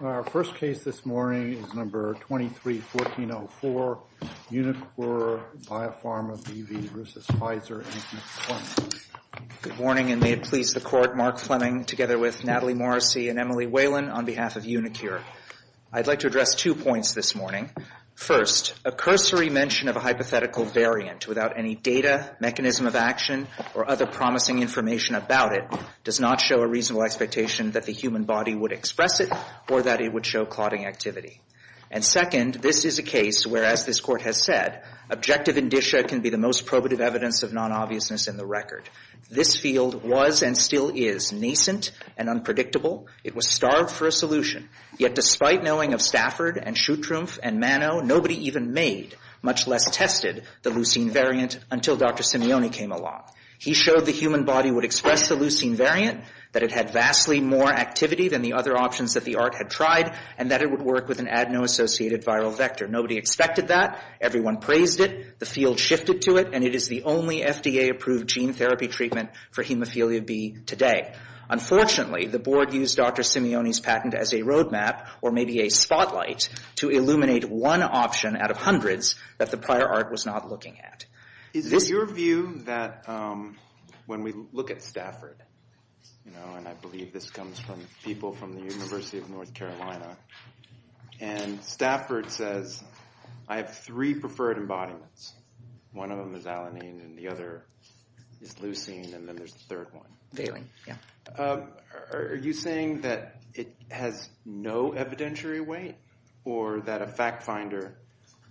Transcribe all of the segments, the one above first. Our first case this morning is No. 23-1404, UniQure Biopharma B.V. v. Pfizer, Inc., Fleming. Good morning, and may it please the Court, Mark Fleming together with Natalie Morrissey and Emily Whalen on behalf of UniQure. I'd like to address two points this morning. First, a cursory mention of a hypothetical variant without any data, mechanism of action, or other promising information about it does not show a reasonable expectation that the human body would express it or that it would show clotting activity. And second, this is a case where, as this Court has said, objective indicia can be the most probative evidence of non-obviousness in the record. This field was and still is nascent and unpredictable. It was starved for a solution, yet despite knowing of Stafford and Shuttrumpf and Mano, nobody even made, much less tested, the leucine variant until Dr. Simeone came along. He showed the human body would express the leucine variant, that it had vastly more activity than the other options that the ART had tried, and that it would work with an adeno-associated viral vector. Nobody expected that. Everyone praised it. The field shifted to it, and it is the only FDA-approved gene therapy treatment for hemophilia B today. Unfortunately, the Board used Dr. Simeone's patent as a roadmap, or maybe a spotlight, to illuminate one option out of hundreds that the prior ART was not looking at. Is it your view that when we look at Stafford, and I believe this comes from people from the University of North Carolina, and Stafford says, I have three preferred embodiments. One of them is alanine, and the other is leucine, and then there's the third one. Are you saying that it has no evidentiary weight, or that a fact finder,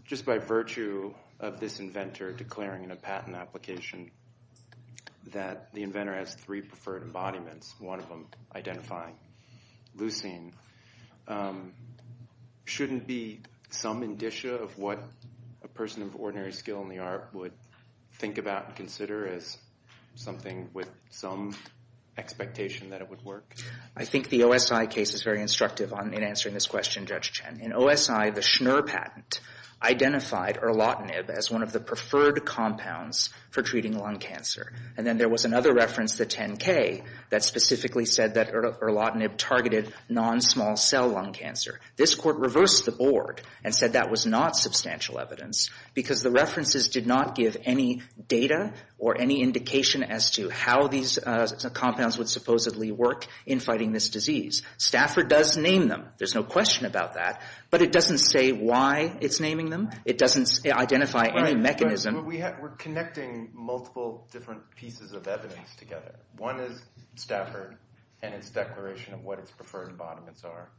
just by virtue of this inventor declaring in a patent application that the inventor has three preferred embodiments, one of them identifying leucine, shouldn't be some indicia of what a person of ordinary skill in the ART would think about and consider as something with some expectation that it would work? I think the OSI case is very instructive in answering this question, Judge Chen. In OSI, the Schnur patent identified erlotinib as one of the preferred compounds for treating lung cancer. And then there was another reference, the 10K, that specifically said that erlotinib targeted non-small cell lung cancer. This court reversed the Board and said that was not substantial evidence because the references did not give any data or any indication as to how these compounds would supposedly work in fighting this disease. Stafford does name them. There's no question about that. But it doesn't say why it's naming them. It doesn't identify any mechanism. We're connecting multiple different pieces of evidence together. One is Stafford and its declaration of what its preferred embodiments are.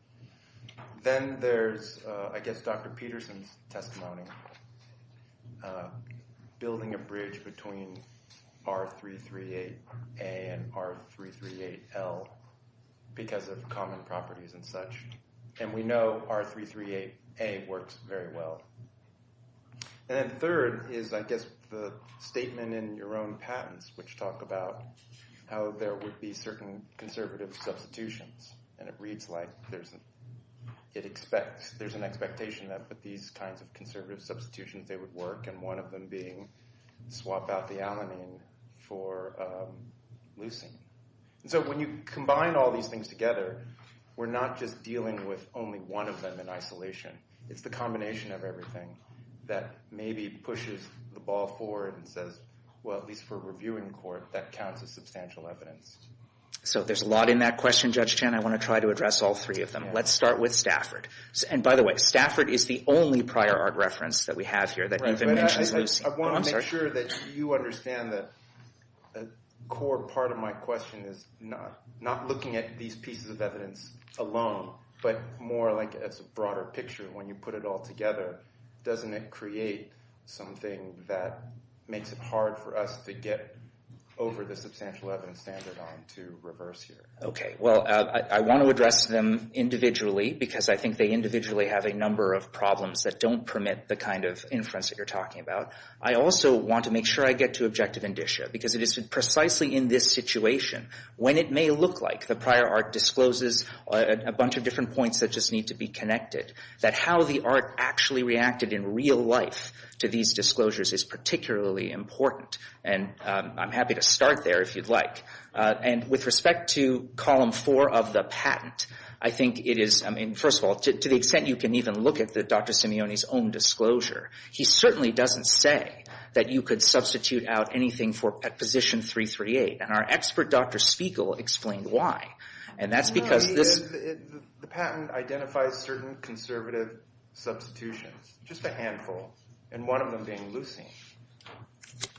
Then there's, I guess, Dr. Peterson's testimony, building a bridge between R338A and R338L because of common properties and such. And we know R338A works very well. And then third is, I guess, the statement in your own patents, which talk about how there would be certain conservative substitutions. And it reads like there's an expectation that these kinds of conservative substitutions, they would work, and one of them being swap out the alanine for leucine. So when you combine all these things together, we're not just dealing with only one of them in isolation. It's the combination of everything that maybe pushes the ball forward and says, well, at least for a reviewing court, that counts as substantial evidence. So there's a lot in that question, Judge Chen. I want to try to address all three of them. Let's start with Stafford. And by the way, Stafford is the only prior art reference that we have here that even mentions leucine. I want to make sure that you understand that a core part of my question is not looking at these pieces of evidence alone, but more like it's a broader picture. When you put it all together, doesn't it create something that makes it hard for us to get over the substantial evidence standard arm to reverse here? Okay. Well, I want to address them individually because I think they individually have a number of problems that don't permit the kind of inference that you're talking about. I also want to make sure I get to objective indicia because it is precisely in this situation, when it may look like the prior art discloses a bunch of different points that just need to be connected, that how the art actually reacted in real life to these disclosures is particularly important. And I'm happy to start there if you'd like. And with respect to column four of the patent, I think it is, I mean, first of all, to the extent you can even look at Dr. Simeone's own disclosure, he certainly doesn't say that you could substitute out anything for position 338. And our expert, Dr. Spiegel, explained why. And that's because this... The patent identifies certain conservative substitutions, just a handful, and one of them being leucine.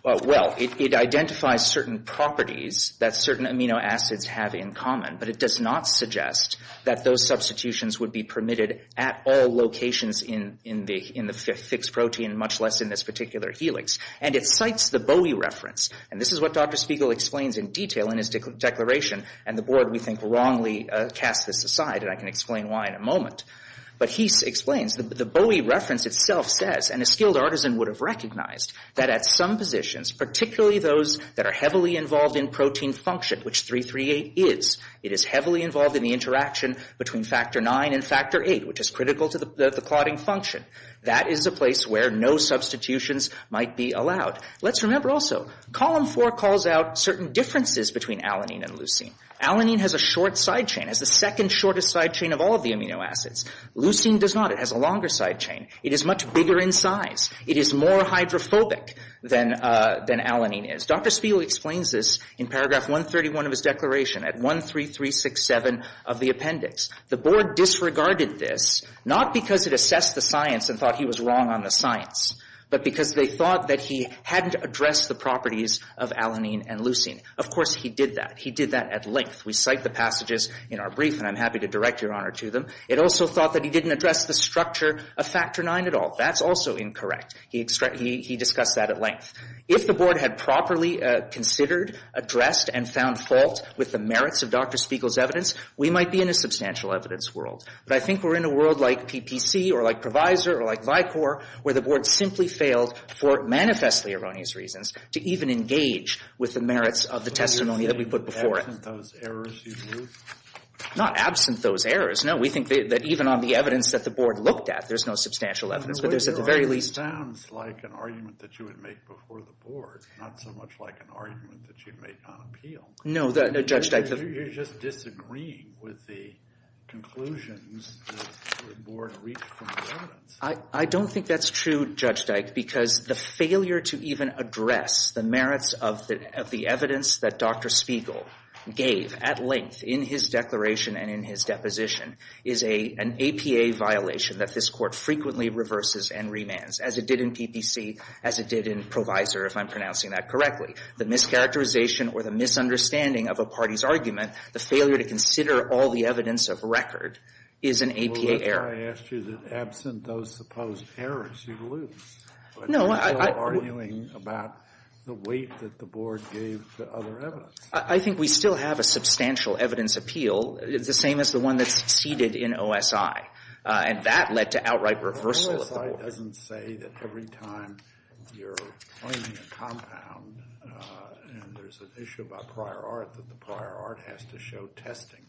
Well, it identifies certain properties that certain amino acids have in common, but it does not suggest that those substitutions would be permitted at all locations in the fixed protein, much less in this particular helix. And it cites the Bowie reference. And this is what Dr. Spiegel explains in detail in his declaration, and the board, we think, wrongly casts this aside, and I can explain why in a moment. But he explains, the Bowie reference itself says, and a skilled artisan would have recognized, that at some positions, particularly those that are heavily involved in protein function, which 338 is, it is heavily involved in the interaction between factor 9 and factor 8, which is critical to the clotting function. That is a place where no substitutions might be allowed. Let's remember also, column four calls out certain differences between alanine and leucine. Alanine has a short side chain, has the second shortest side chain of all of the amino acids. Leucine does not. It has a longer side chain. It is much bigger in size. It is more hydrophobic than alanine is. Dr. Spiegel explains this in paragraph 131 of his declaration, at 13367 of the appendix. The board disregarded this, not because it assessed the science and thought he was wrong on the science, but because they thought that he hadn't addressed the properties of alanine and leucine. Of course, he did that. He did that at length. We cite the passages in our brief, and I'm happy to direct your honor to them. It also thought that he didn't address the structure of factor 9 at all. That's also incorrect. He discussed that at length. If the board had properly considered, addressed, and found fault with the merits of Dr. Spiegel's evidence, we might be in a substantial evidence world. But I think we're in a world like PPC or like Provisor or like Vicor, where the board simply failed, for manifestly erroneous reasons, to even engage with the merits of the testimony that we put before it. Absent those errors, you mean? Not absent those errors. No, we think that even on the evidence that the board looked at, there's no substantial evidence, but there's at the very least... It sounds like an argument that you would make before the board, not so much like an argument that you'd make on appeal. No, Judge Dyke... You're just disagreeing with the conclusions that the board reached from the evidence. I don't think that's true, Judge Dyke, because the failure to even address the merits of the evidence that Dr. Spiegel gave at length in his declaration and in his deposition is an APA violation that this Court frequently reverses and remands, as it did in PPC, as it did in Provisor, if I'm pronouncing that correctly. The mischaracterization or the misunderstanding of a party's argument, the failure to consider all the evidence of record, is an APA error. Well, that's why I asked you that absent those supposed errors, you lose. But you're still arguing about the weight that the board gave the other evidence. I think we still have a substantial evidence appeal, the same as the one that succeeded in OSI, and that led to outright reversal of the board. OSI doesn't say that every time you're claiming a compound and there's an issue about prior art that the prior art has to show testing.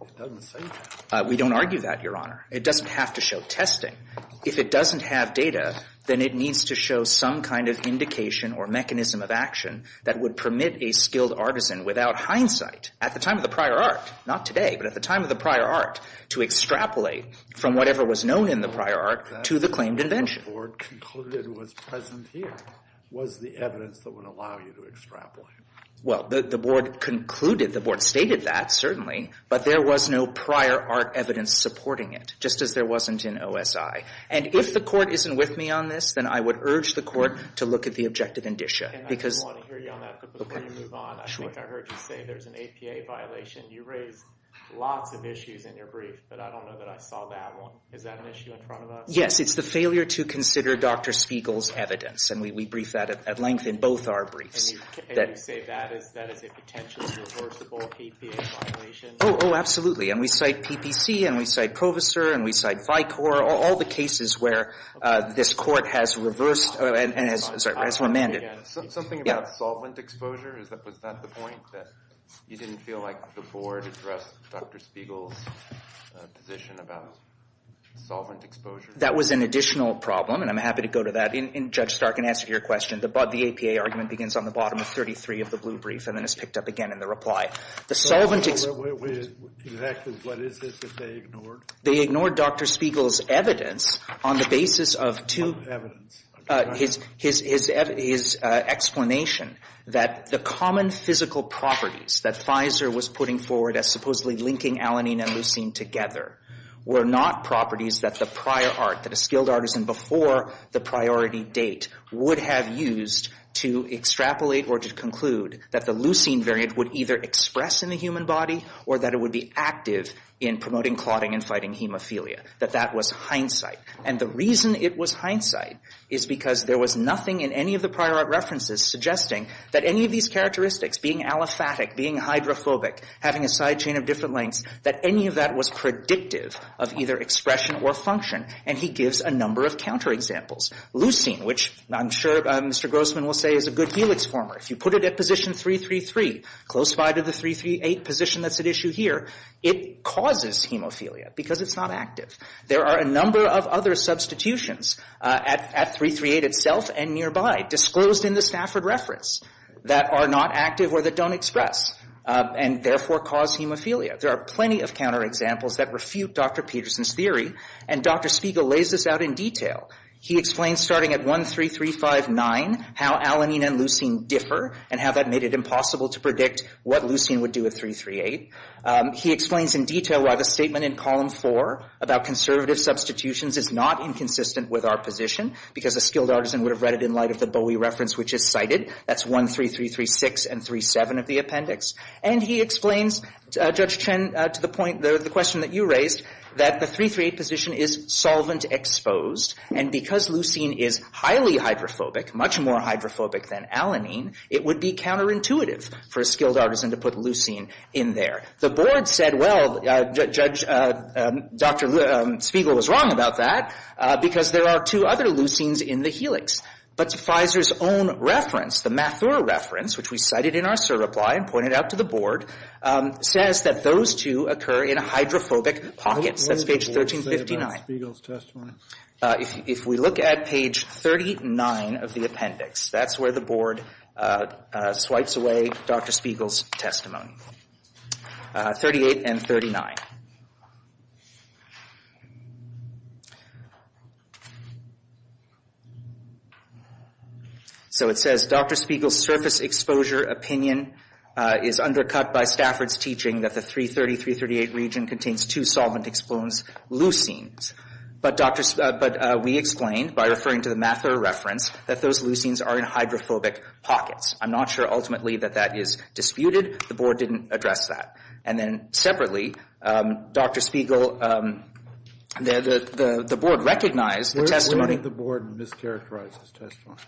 It doesn't say that. We don't argue that, Your Honor. It doesn't have to show testing. If it doesn't have data, then it needs to show some kind of indication or mechanism of action that would permit a skilled artisan without hindsight, at the time of the prior art, not today, but at the time of the prior art, to extrapolate from whatever was known in the prior art to the claimed invention. The board concluded it was present here was the evidence that would allow you to extrapolate. Well, the board concluded, the board stated that, certainly, but there was no prior art evidence supporting it, just as there wasn't in OSI. And if the court isn't with me on this, then I would urge the court to look at the objective indicia. And I do want to hear you on that, but before you move on, I think I heard you say there's an APA violation. You raised lots of issues in your brief, but I don't know that I saw that one. Is that an issue in front of us? Yes, it's the failure to consider Dr. Spiegel's evidence, and we brief that at length in both our briefs. And you say that is a potentially reversible APA violation? Oh, absolutely. And we cite PPC, and we cite Proviser, and we cite Vicor, all the cases where this court has reversed and has remanded. Something about solvent exposure? Was that the point, that you didn't feel like the board addressed Dr. Spiegel's position about solvent exposure? That was an additional problem, and I'm happy to go to that. And Judge Stark, in answer to your question, the APA argument begins on the bottom of 33 of the blue brief and then is picked up again in the reply. So what is it that they ignored? They ignored Dr. Spiegel's evidence on the basis of two... What evidence? His explanation that the common physical properties that Pfizer was putting forward as supposedly linking alanine and leucine together were not properties that the prior art, that a skilled artisan before the priority date would have used to extrapolate or to conclude that the leucine variant would either express in the human body or that it would be active in promoting clotting and fighting hemophilia. That that was hindsight. And the reason it was hindsight is because there was nothing in any of the prior art references suggesting that any of these characteristics, being aliphatic, being hydrophobic, having a side chain of different lengths, that any of that was predictive of either expression or function. And he gives a number of counterexamples. Leucine, which I'm sure Mr. Grossman will say is a good helix former, if you put it at position 333, close by to the 338 position that's at issue here, it causes hemophilia because it's not active. There are a number of other substitutions at 338 itself and nearby disclosed in the Stafford reference that are not active or that don't express and therefore cause hemophilia. There are plenty of counterexamples that refute Dr. Peterson's theory and Dr. Spiegel lays this out in detail. He explains starting at 13359 how alanine and leucine differ and how that made it impossible to predict what leucine would do at 338. He explains in detail why the statement in column 4 about conservative substitutions is not inconsistent with our position because a skilled artisan would have read it in light of the Bowie reference which is cited. That's 13336 and 37 of the appendix. And he explains, Judge Chen, to the point, the question that you raised, that the 338 position is solvent exposed and because leucine is highly hydrophobic, much more hydrophobic than alanine, it would be counterintuitive for a skilled artisan to put leucine in there. The board said, well, Judge, Dr. Spiegel was wrong about that because there are two other leucines in the helix. But Pfizer's own reference, the Mathura reference, which we cited in our surreply and pointed out to the board, says that those two occur in hydrophobic pockets. That's page 1359. Dr. Spiegel's testimony. If we look at page 39 of the appendix, that's where the board swipes away Dr. Spiegel's testimony, 38 and 39. So it says, Dr. Spiegel's surface exposure opinion is undercut by Stafford's teaching that the 330, 338 region contains two solvent-exposed leucines. But we explained, by referring to the Mathura reference, that those leucines are in hydrophobic pockets. I'm not sure ultimately that that is disputed. The board didn't address that. And then separately, Dr. Spiegel, the board recognized the testimony. Where did the board mischaracterize his testimony?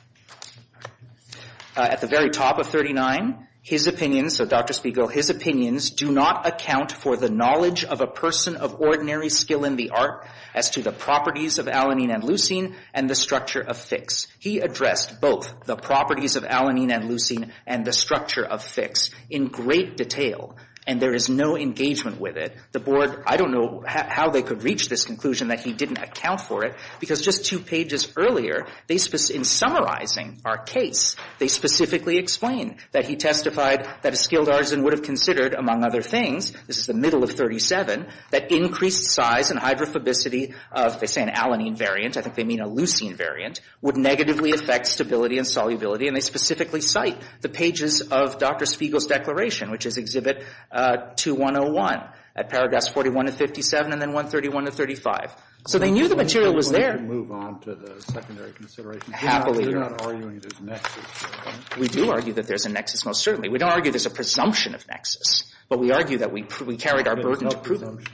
At the very top of 39, his opinion, so Dr. Spiegel, his opinions do not account for the knowledge of a person of ordinary skill in the art as to the properties of alanine and leucine and the structure of fix. He addressed both the properties of alanine and leucine and the structure of fix in great detail. And there is no engagement with it. The board, I don't know how they could reach this conclusion that he didn't account for it because just two pages earlier, in summarizing our case, they specifically explain that he testified that a skilled artisan would have considered, among other things, this is the middle of 37, that increased size and hydrophobicity of, they say an alanine variant, I think they mean a leucine variant, would negatively affect stability and solubility. And they specifically cite the pages of Dr. Spiegel's declaration, which is Exhibit 2101 at paragraphs 41 to 57 and then 131 to 35. So they knew the material was there. Can I move on to the secondary consideration? You're not arguing there's a nexus. We do argue that there's a nexus, most certainly. We don't argue there's a presumption of nexus, but we argue that we carried our burden to prove it.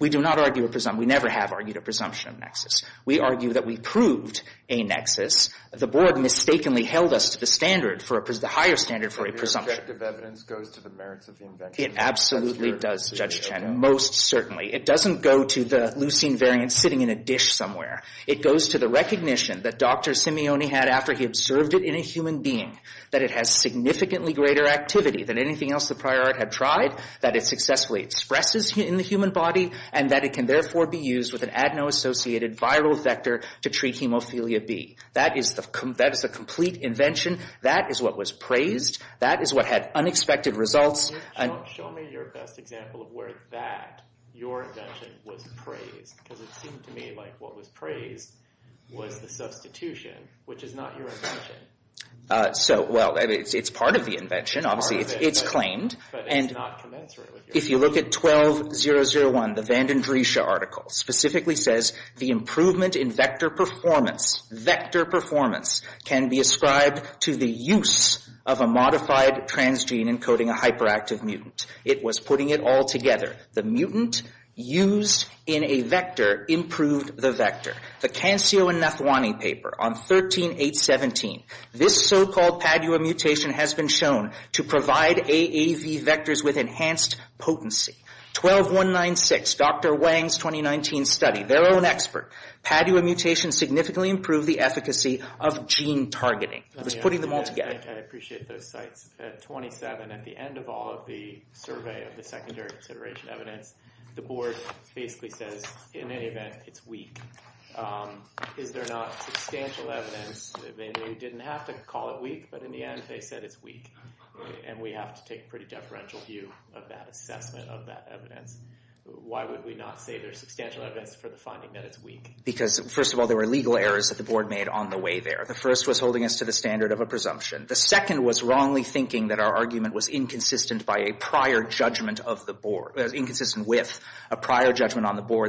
We do not argue a presumption. We never have argued a presumption of nexus. We argue that we proved a nexus. The board mistakenly held us to the standard, the higher standard for a presumption. The objective evidence goes to the merits of the invention. It absolutely does, Judge Chen, most certainly. It doesn't go to the leucine variant sitting in a dish somewhere. It goes to the recognition that Dr. Simeone had after he observed it in a human being, that it has significantly greater activity than anything else the prior art had tried, that it successfully expresses in the human body, and that it can therefore be used with an adeno-associated viral vector to treat hemophilia B. That is the complete invention. That is what was praised. That is what had unexpected results. Show me your best example of where that, your invention, was praised. Because it seemed to me like what was praised was the substitution, which is not your invention. So, well, it's part of the invention, obviously. It's claimed. But it's not commensurate with your invention. If you look at 12001, the Vandendriesche article specifically says the improvement in vector performance, vector performance, can be ascribed to the use of a modified transgene encoding a hyperactive mutant. It was putting it all together. The mutant used in a vector improved the vector. The Cancio and Nathwani paper on 13.817, this so-called Padua mutation has been shown to provide AAV vectors with enhanced potency. 12.196, Dr. Wang's 2019 study, their own expert, Padua mutation significantly improved the efficacy of gene targeting. It was putting them all together. I appreciate those sites. At 27, at the end of all of the survey, of the secondary consideration evidence, the board basically says, in any event, it's weak. Is there not substantial evidence? They didn't have to call it weak, but in the end they said it's weak. And we have to take a pretty deferential view of that assessment of that evidence. Why would we not say there's substantial evidence for the finding that it's weak? Because, first of all, there were legal errors that the board made on the way there. The first was holding us to the standard of a presumption. The second was wrongly thinking that our argument was inconsistent with a prior judgment on the board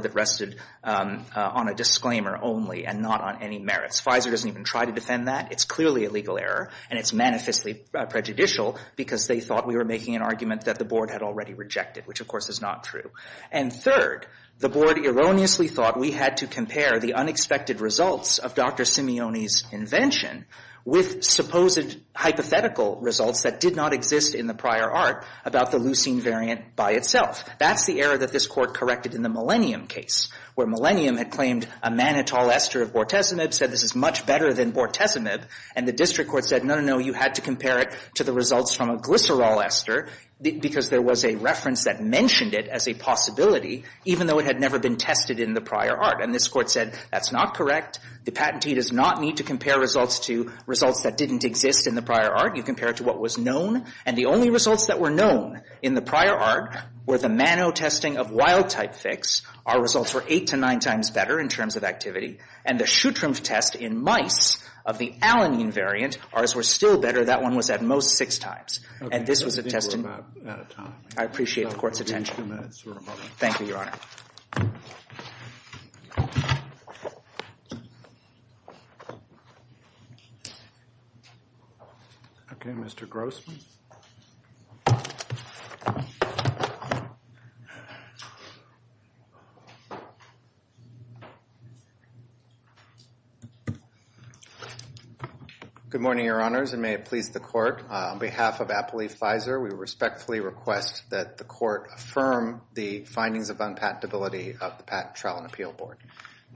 that rested on a disclaimer only and not on any merits. Pfizer doesn't even try to defend that. It's clearly a legal error, and it's manifestly prejudicial because they thought we were making an argument that the board had already rejected, which, of course, is not true. And third, the board erroneously thought we had to compare the unexpected results of Dr. Simeone's invention with supposed hypothetical results that did not exist in the prior art about the leucine variant by itself. That's the error that this court corrected in the Millennium case, where Millennium had claimed a mannitol ester of bortezomib, said this is much better than bortezomib, and the district court said, no, no, no, you had to compare it to the results from a glycerol ester because there was a reference that mentioned it as a possibility, even though it had never been tested in the prior art. And this court said, that's not correct. The patentee does not need to compare results to results that didn't exist in the prior art. You compare it to what was known. And the only results that were known in the prior art were the mannotesting of wild-type fix. Our results were eight to nine times better in terms of activity. And the shutrump test in mice of the alanine variant, ours were still better. That one was at most six times. And this was a test in... I appreciate the Court's attention. Thank you, Your Honor. Okay, Mr. Grossman. Good morning, Your Honors, and may it please the Court. On behalf of Apple Leaf Pfizer, we respectfully request that the Court affirm the findings of unpatentability of the Patent, Trial, and Appeal Board.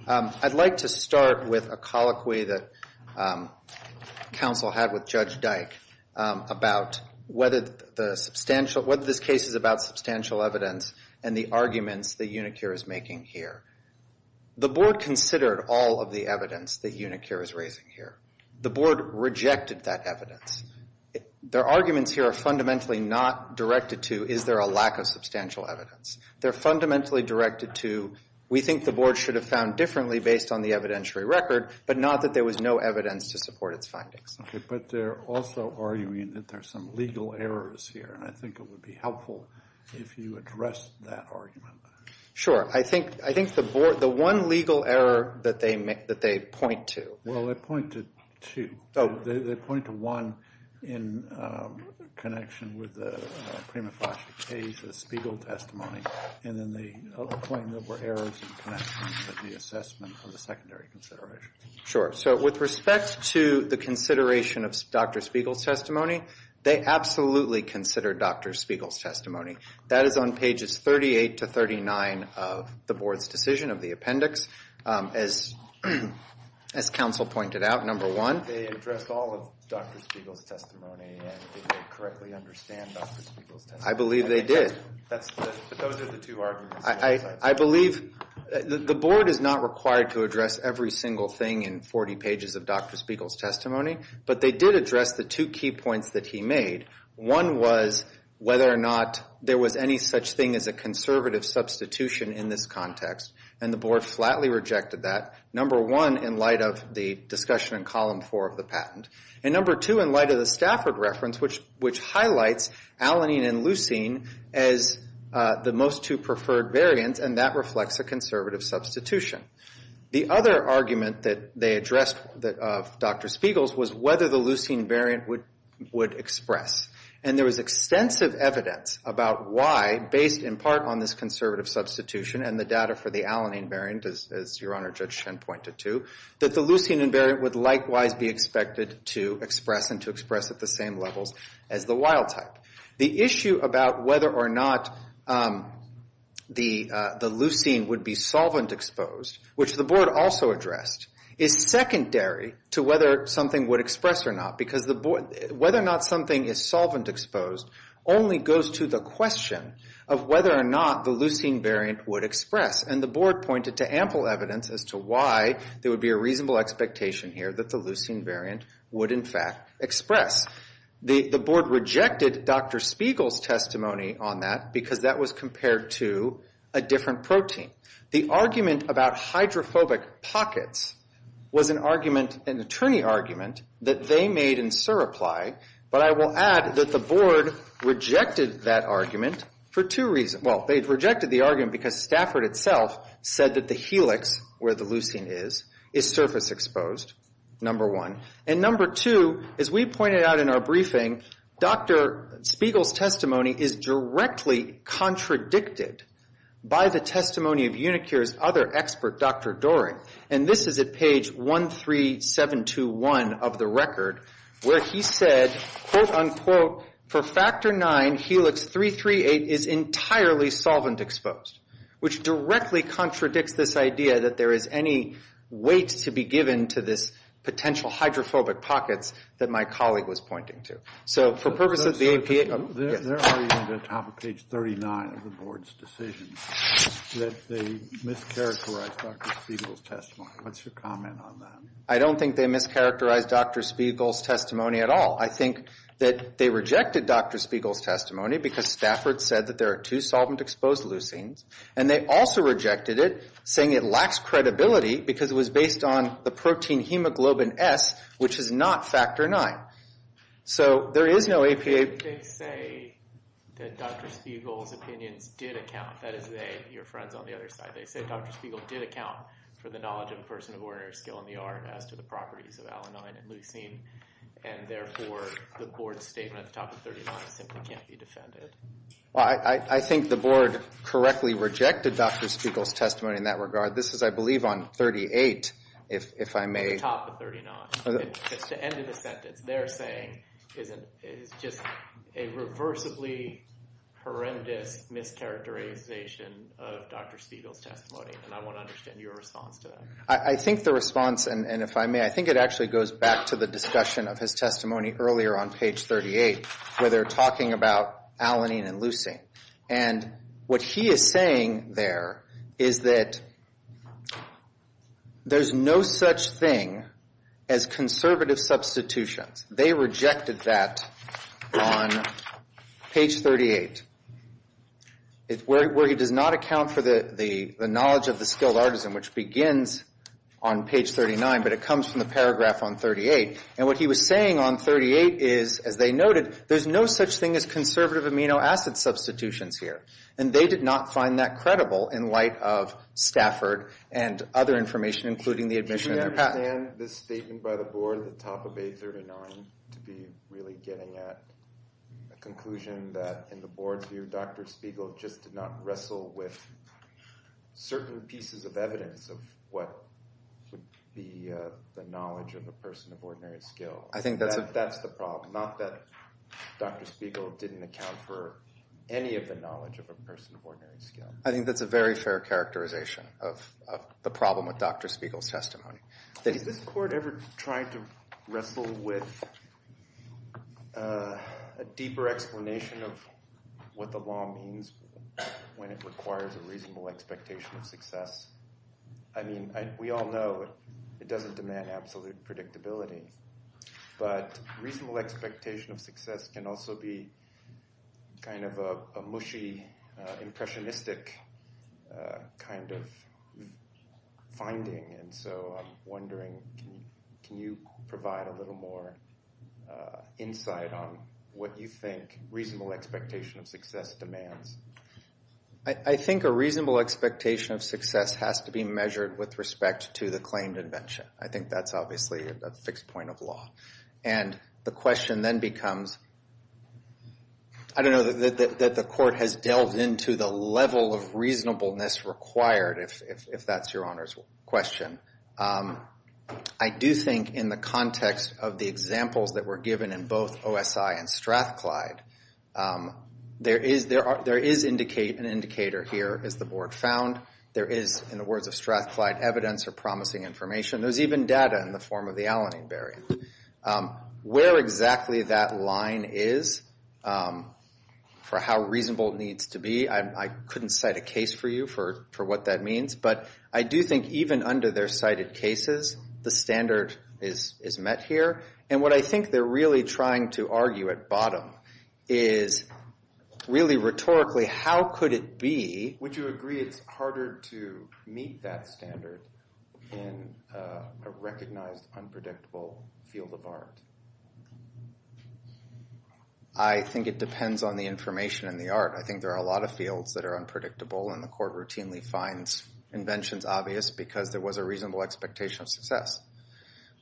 I'd like to start with a colloquy that counsel had with Judge Dyke about whether this case is about substantial evidence and the arguments that Unicure is making here. The Board considered all of the evidence that Unicure is raising here. The Board rejected that evidence. Their arguments here are fundamentally not directed to is there a lack of substantial evidence. They're fundamentally directed to we think the Board should have found differently based on the evidentiary record, and there was no evidence to support its findings. Okay, but they're also arguing that there's some legal errors here, and I think it would be helpful if you addressed that argument. Sure. I think the one legal error that they point to... Well, they point to two. Oh, they point to one in connection with the prima facie case, the Spiegel testimony, and then they claim there were errors in connection with the assessment of the secondary consideration. Sure. So with respect to the consideration of Dr. Spiegel's testimony, they absolutely consider Dr. Spiegel's testimony. That is on pages 38 to 39 of the Board's decision of the appendix. As counsel pointed out, number one... They addressed all of Dr. Spiegel's testimony, and they correctly understand Dr. Spiegel's testimony. I believe they did. Those are the two arguments. I believe the Board is not required to address every single thing in 40 pages of Dr. Spiegel's testimony, but they did address the two key points that he made. One was whether or not there was any such thing as a conservative substitution in this context, and the Board flatly rejected that, number one, in light of the discussion in column four of the patent, and number two, in light of the Stafford reference, which highlights Alanine and Leucine as the most two preferred variants, and that reflects a conservative substitution. The other argument that they addressed of Dr. Spiegel's was whether the Leucine variant would express, and there was extensive evidence about why, based in part on this conservative substitution and the data for the Alanine variant, as Your Honor Judge Shen pointed to, that the Leucine variant would likewise be expected to express and to express at the same levels as the wild type. The issue about whether or not the Leucine would be solvent exposed, which the Board also addressed, is secondary to whether something would express or not, because whether or not something is solvent exposed only goes to the question of whether or not the Leucine variant would express, and the Board pointed to ample evidence as to why there would be a reasonable expectation here that the Leucine variant would, in fact, express. The Board rejected Dr. Spiegel's testimony on that because that was compared to a different protein. The argument about hydrophobic pockets was an argument, an attorney argument, that they made in Surapply, but I will add that the Board rejected that argument for two reasons. Well, they rejected the argument because Stafford itself said that the helix, where the Leucine is, is surface exposed, number one. And number two, as we pointed out in our briefing, Dr. Spiegel's testimony is directly contradicted by the testimony of Unicure's other expert, Dr. Doering, and this is at page 13721 of the record, where he said, quote, unquote, for factor IX, helix 338 is entirely solvent exposed, which directly contradicts this idea that there is any weight to be given to this potential hydrophobic pockets that my colleague was pointing to. So for purposes of the APA... There are even at the top of page 39 of the Board's decision that they mischaracterized Dr. Spiegel's testimony. What's your comment on that? I don't think they mischaracterized Dr. Spiegel's testimony at all. I think that they rejected Dr. Spiegel's testimony because Stafford said that there are two solvent-exposed Leucines, and they also rejected it, saying it lacks credibility because it was based on the protein hemoglobin S, which is not factor IX. So there is no APA... They say that Dr. Spiegel's opinions did account, that is they, your friends on the other side, they say Dr. Spiegel did account for the knowledge of a person of ordinary skill in the art as to the properties of alanine and leucine, and therefore the Board's statement at the top of 39 simply can't be defended. Well, I think the Board correctly rejected Dr. Spiegel's testimony in that regard. This is, I believe, on 38, if I may... At the top of 39. It's the end of the sentence. They're saying it's just a reversibly horrendous mischaracterization of Dr. Spiegel's testimony, and I want to understand your response to that. I think the response, and if I may, I think it actually goes back to the discussion of his testimony earlier on page 38, where they're talking about alanine and leucine. And what he is saying there is that there's no such thing as conservative substitutions. They rejected that on page 38, where he does not account for the knowledge of the skilled artisan, which begins on page 39, but it comes from the paragraph on 38. And what he was saying on 38 is, as they noted, there's no such thing as conservative amino acid substitutions here. And they did not find that credible in light of Stafford and other information, including the admission... Do you understand this statement by the board at the top of page 39 to be really getting at a conclusion that, in the board's view, Dr. Spiegel just did not wrestle with certain pieces of evidence of what would be the knowledge of a person of ordinary skill? I think that's... That's the problem. Not that Dr. Spiegel didn't account for any of the knowledge of a person of ordinary skill. I think that's a very fair characterization of the problem with Dr. Spiegel's testimony. Is this court ever trying to wrestle with a deeper explanation of what the law means when it requires a reasonable expectation of success? I mean, we all know it doesn't demand absolute predictability, but reasonable expectation of success can also be kind of a mushy, impressionistic kind of finding. And so I'm wondering, can you provide a little more insight on what you think reasonable expectation of success demands? I think a reasonable expectation of success has to be measured with respect to the claimed invention. I think that's obviously a fixed point of law. And the question then becomes... I don't know that the court has delved into the level of reasonableness required, if that's your Honor's question. I do think in the context of the examples that were given in both OSI and Strathclyde, there is an indicator here as the board found. There is, in the words of Strathclyde, evidence or promising information. There's even data in the form of the Alanine barrier. Where exactly that line is for how reasonable it needs to be, I couldn't cite a case for you for what that means. But I do think even under their cited cases, the standard is met here. And what I think they're really trying to argue at bottom is really rhetorically, how could it be... Would you agree it's harder to meet that standard in a recognized, unpredictable field of art? I think it depends on the information and the art. I think there are a lot of fields that are unpredictable and the court routinely finds inventions obvious because there was a reasonable expectation of success.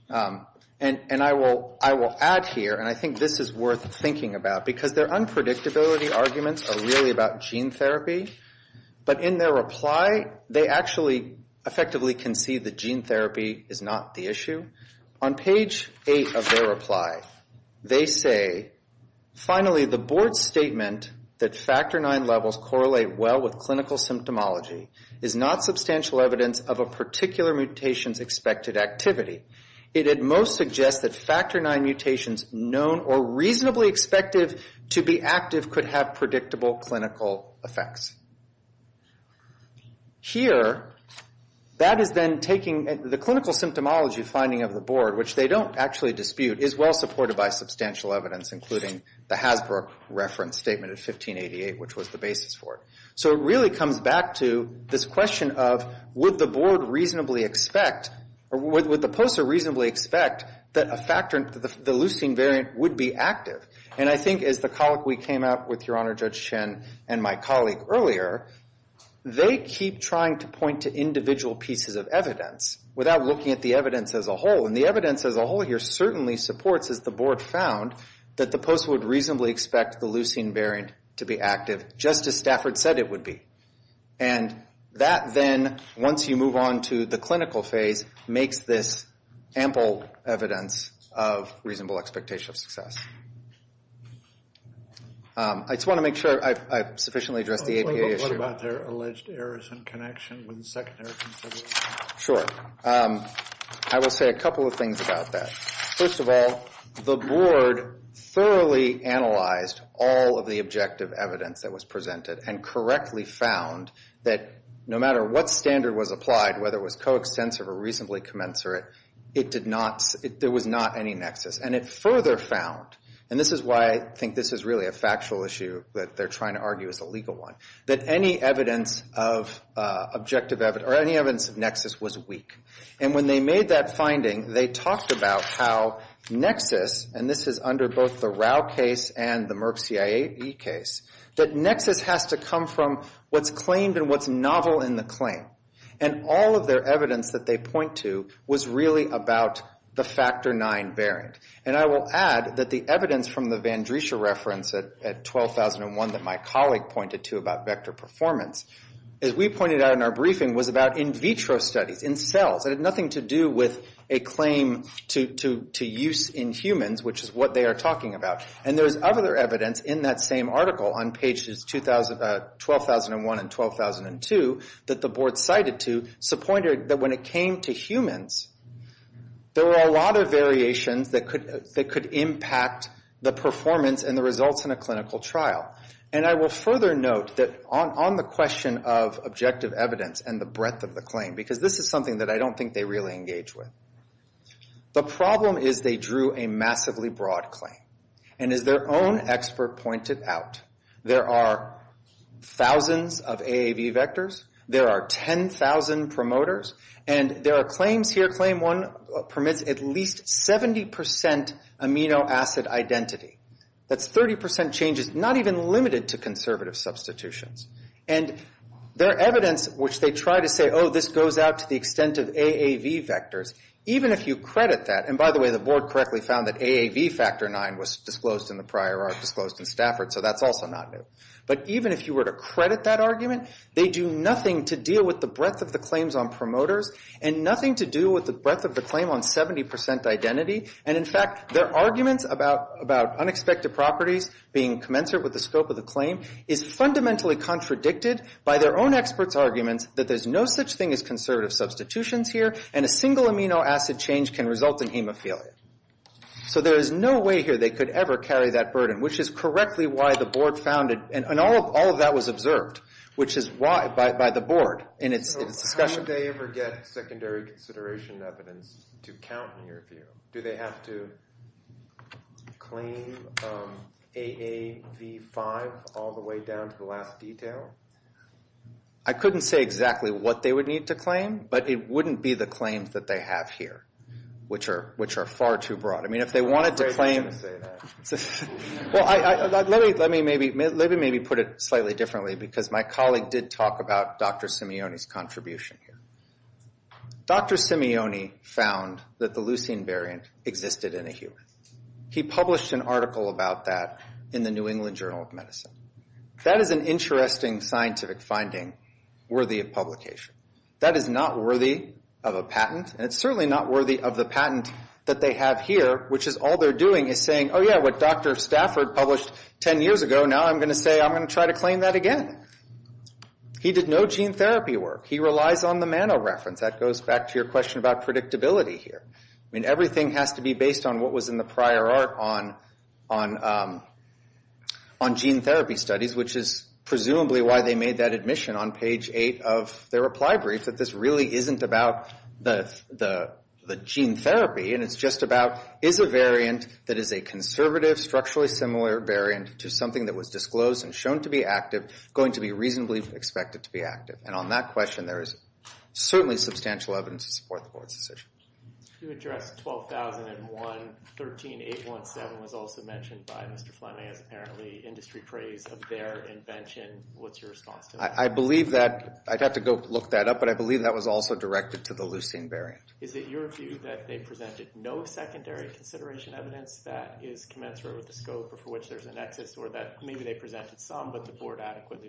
And I will add here, and I think this is worth thinking about, because their unpredictability arguments are really about gene therapy. But in their reply, they actually effectively concede that gene therapy is not the issue. On page 8 of their reply, they say, finally, the board's statement that factor IX levels correlate well with clinical symptomology is not substantial evidence of a particular mutation's expected activity. It at most suggests that factor IX mutations known or reasonably expected to be active could have predictable clinical effects. Here, that is then taking... The clinical symptomology finding of the board, which they don't actually dispute, is well supported by substantial evidence, including the Hasbro reference statement of 1588, which was the basis for it. So it really comes back to this question of, would the board reasonably expect, or would the poster reasonably expect that the leucine variant would be active? And I think as the colleague we came out with, Your Honor, Judge Chen, and my colleague earlier, they keep trying to point to individual pieces of evidence without looking at the evidence as a whole. And the evidence as a whole here certainly supports, as the board found, that the poster would reasonably expect the leucine variant to be active, just as Stafford said it would be. And that then, once you move on to the clinical phase, makes this ample evidence of reasonable expectation of success. I just want to make sure I've sufficiently addressed the APA issue. What about their alleged errors in connection with the secondary consideration? Sure. I will say a couple of things about that. First of all, the board thoroughly analyzed all of the objective evidence that was presented and correctly found that no matter what standard was applied, whether it was coextensive or reasonably commensurate, it did not, there was not any nexus. And it further found, and this is why I think this is really a factual issue that they're trying to argue is a legal one, that any evidence of objective evidence, or any evidence of nexus was weak. And when they made that finding, they talked about how nexus, and this is under both the Rao case and the Merck CIE case, that nexus has to come from what's claimed and what's novel in the claim. And all of their evidence that they point to was really about the Factor IX variant. And I will add that the evidence from the Vandrisha reference at 12,001 that my colleague pointed to about vector performance, as we pointed out in our briefing, was about in vitro studies, in cells. It had nothing to do with a claim to use in humans, which is what they are talking about. And there's other evidence in that same article on pages 12,001 and 12,002 that the board cited to, so pointed that when it came to humans, there were a lot of variations that could impact the performance and the results in a clinical trial. And I will further note that on the question of objective evidence and the breadth of the claim, because this is something that I don't think they really engage with, the problem is they drew a massively broad claim. And as their own expert pointed out, there are thousands of AAV vectors, there are 10,000 promoters, and there are claims here, that claim one permits at least 70% amino acid identity. That's 30% changes, not even limited to conservative substitutions. And their evidence, which they try to say, oh, this goes out to the extent of AAV vectors, even if you credit that, and by the way, the board correctly found that AAV factor 9 was disclosed in the prior article, disclosed in Stafford, so that's also not new. But even if you were to credit that argument, they do nothing to deal with the breadth of the claims on promoters or the breadth of the claim on 70% identity. And in fact, their arguments about unexpected properties being commensurate with the scope of the claim is fundamentally contradicted by their own experts' arguments that there's no such thing as conservative substitutions here, and a single amino acid change can result in hemophilia. So there is no way here they could ever carry that burden, which is correctly why the board found it, and all of that was observed, which is why, by the board, in its discussion. Why would they ever get secondary consideration evidence to count in your view? Do they have to claim AAV5 all the way down to the last detail? I couldn't say exactly what they would need to claim, but it wouldn't be the claims that they have here, which are far too broad. I mean, if they wanted to claim... Well, let me maybe put it slightly differently, because my colleague did talk about Dr. Simeone's contribution here. Dr. Simeone found that the leucine variant existed in a human. He published an article about that in the New England Journal of Medicine. That is an interesting scientific finding worthy of publication. That is not worthy of a patent, and it's certainly not worthy of the patent that they have here, which is all they're doing is saying, oh, yeah, what Dr. Stafford published 10 years ago, now I'm going to say I'm going to try to claim that again. He did no gene therapy work. He relies on the MANO reference. That goes back to your question about predictability here. I mean, everything has to be based on what was in the prior art on gene therapy studies, which is presumably why they made that admission on page 8 of their reply brief, that this really isn't about the gene therapy, and it's just about, is a variant that is a conservative, structurally similar variant to something that was disclosed and shown to be active and is going to be reasonably expected to be active. And on that question, there is certainly substantial evidence to support the board's decision. To address 12,001, 13817 was also mentioned by Mr. Fleming as apparently industry praise of their invention. What's your response to that? I'd have to go look that up, but I believe that was also directed to the leucine variant. Is it your view that they presented no secondary consideration evidence that is commensurate with the scope of what was stated?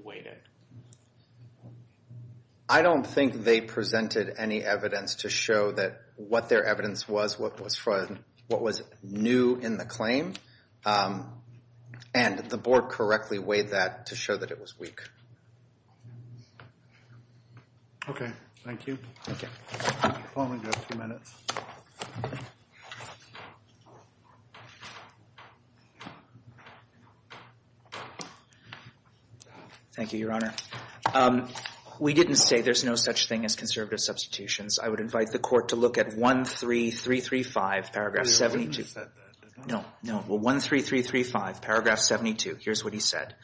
I don't think they presented any evidence to show that what their evidence was, what was new in the claim. And the board correctly weighed that to show that it was weak. Okay. Thank you. I only have a few minutes. Thank you, Your Honor. We didn't say there's no such thing as conservative substitutions. I would invite the court to look at 13335 paragraph 72. No, no. Well, 13335 paragraph 72. Here's what he said.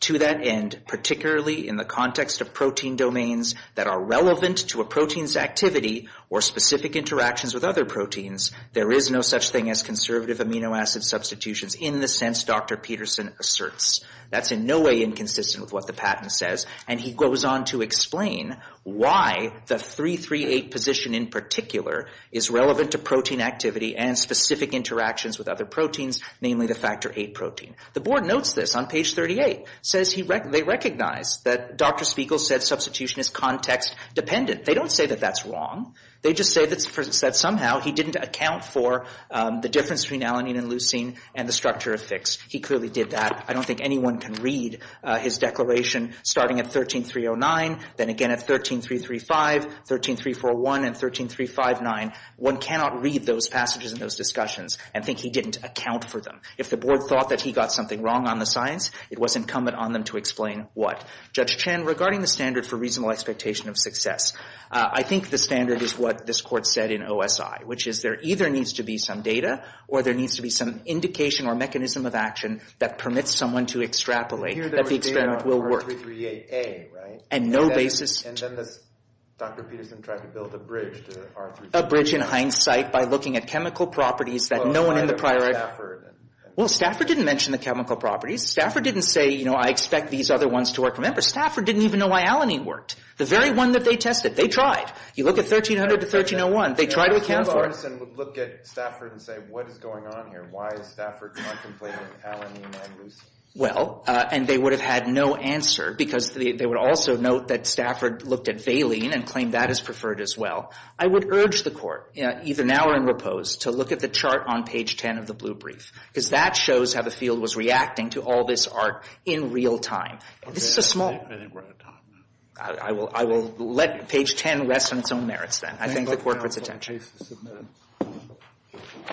To that end, particularly in the context of protein domains that are relevant to a protein's activity or specific interaction with a protein, there is no such thing as conservative amino acid substitutions in the sense Dr. Peterson asserts. That's in no way inconsistent with what the patent says, and he goes on to explain why the 338 position in particular is relevant to protein activity and specific interactions with other proteins, namely the factor VIII protein. The board notes this on page 38. They recognize that Dr. Spiegel said substitution is context-dependent. They don't say that that's wrong. They just say that somehow he didn't account for the difference between alanine and leucine and the structure of fixed. He clearly did that. I don't think anyone can read his declaration starting at 13309, then again at 13335, 13341, and 13359. One cannot read those passages and those discussions and think he didn't account for them. If the board thought that he got something wrong on the science, it was incumbent on them to explain what. Judge Chen, regarding the standard which is what this court said in OSI, which is there either needs to be some data or there needs to be some indication or mechanism of action that permits someone to extrapolate that the experiment will work. And no basis. And then Dr. Peterson tried to build a bridge. A bridge in hindsight by looking at chemical properties that no one in the prior... Well, Stafford didn't mention the chemical properties. Stafford didn't say, you know, I expect these other ones to work. Remember, Stafford didn't even know why alanine worked. They counted to 1301. They tried to account for it. If Paul Barteson would look at Stafford and say what is going on here, why is Stafford contemplating alanine and leucine? Well, and they would have had no answer because they would also note that Stafford looked at valine and claimed that is preferred as well. I would urge the court, either now or in repose, to look at the chart on page 10 of the blue brief because that shows how the field was reacting to all this art in real time. This is a small... I think the court puts attention.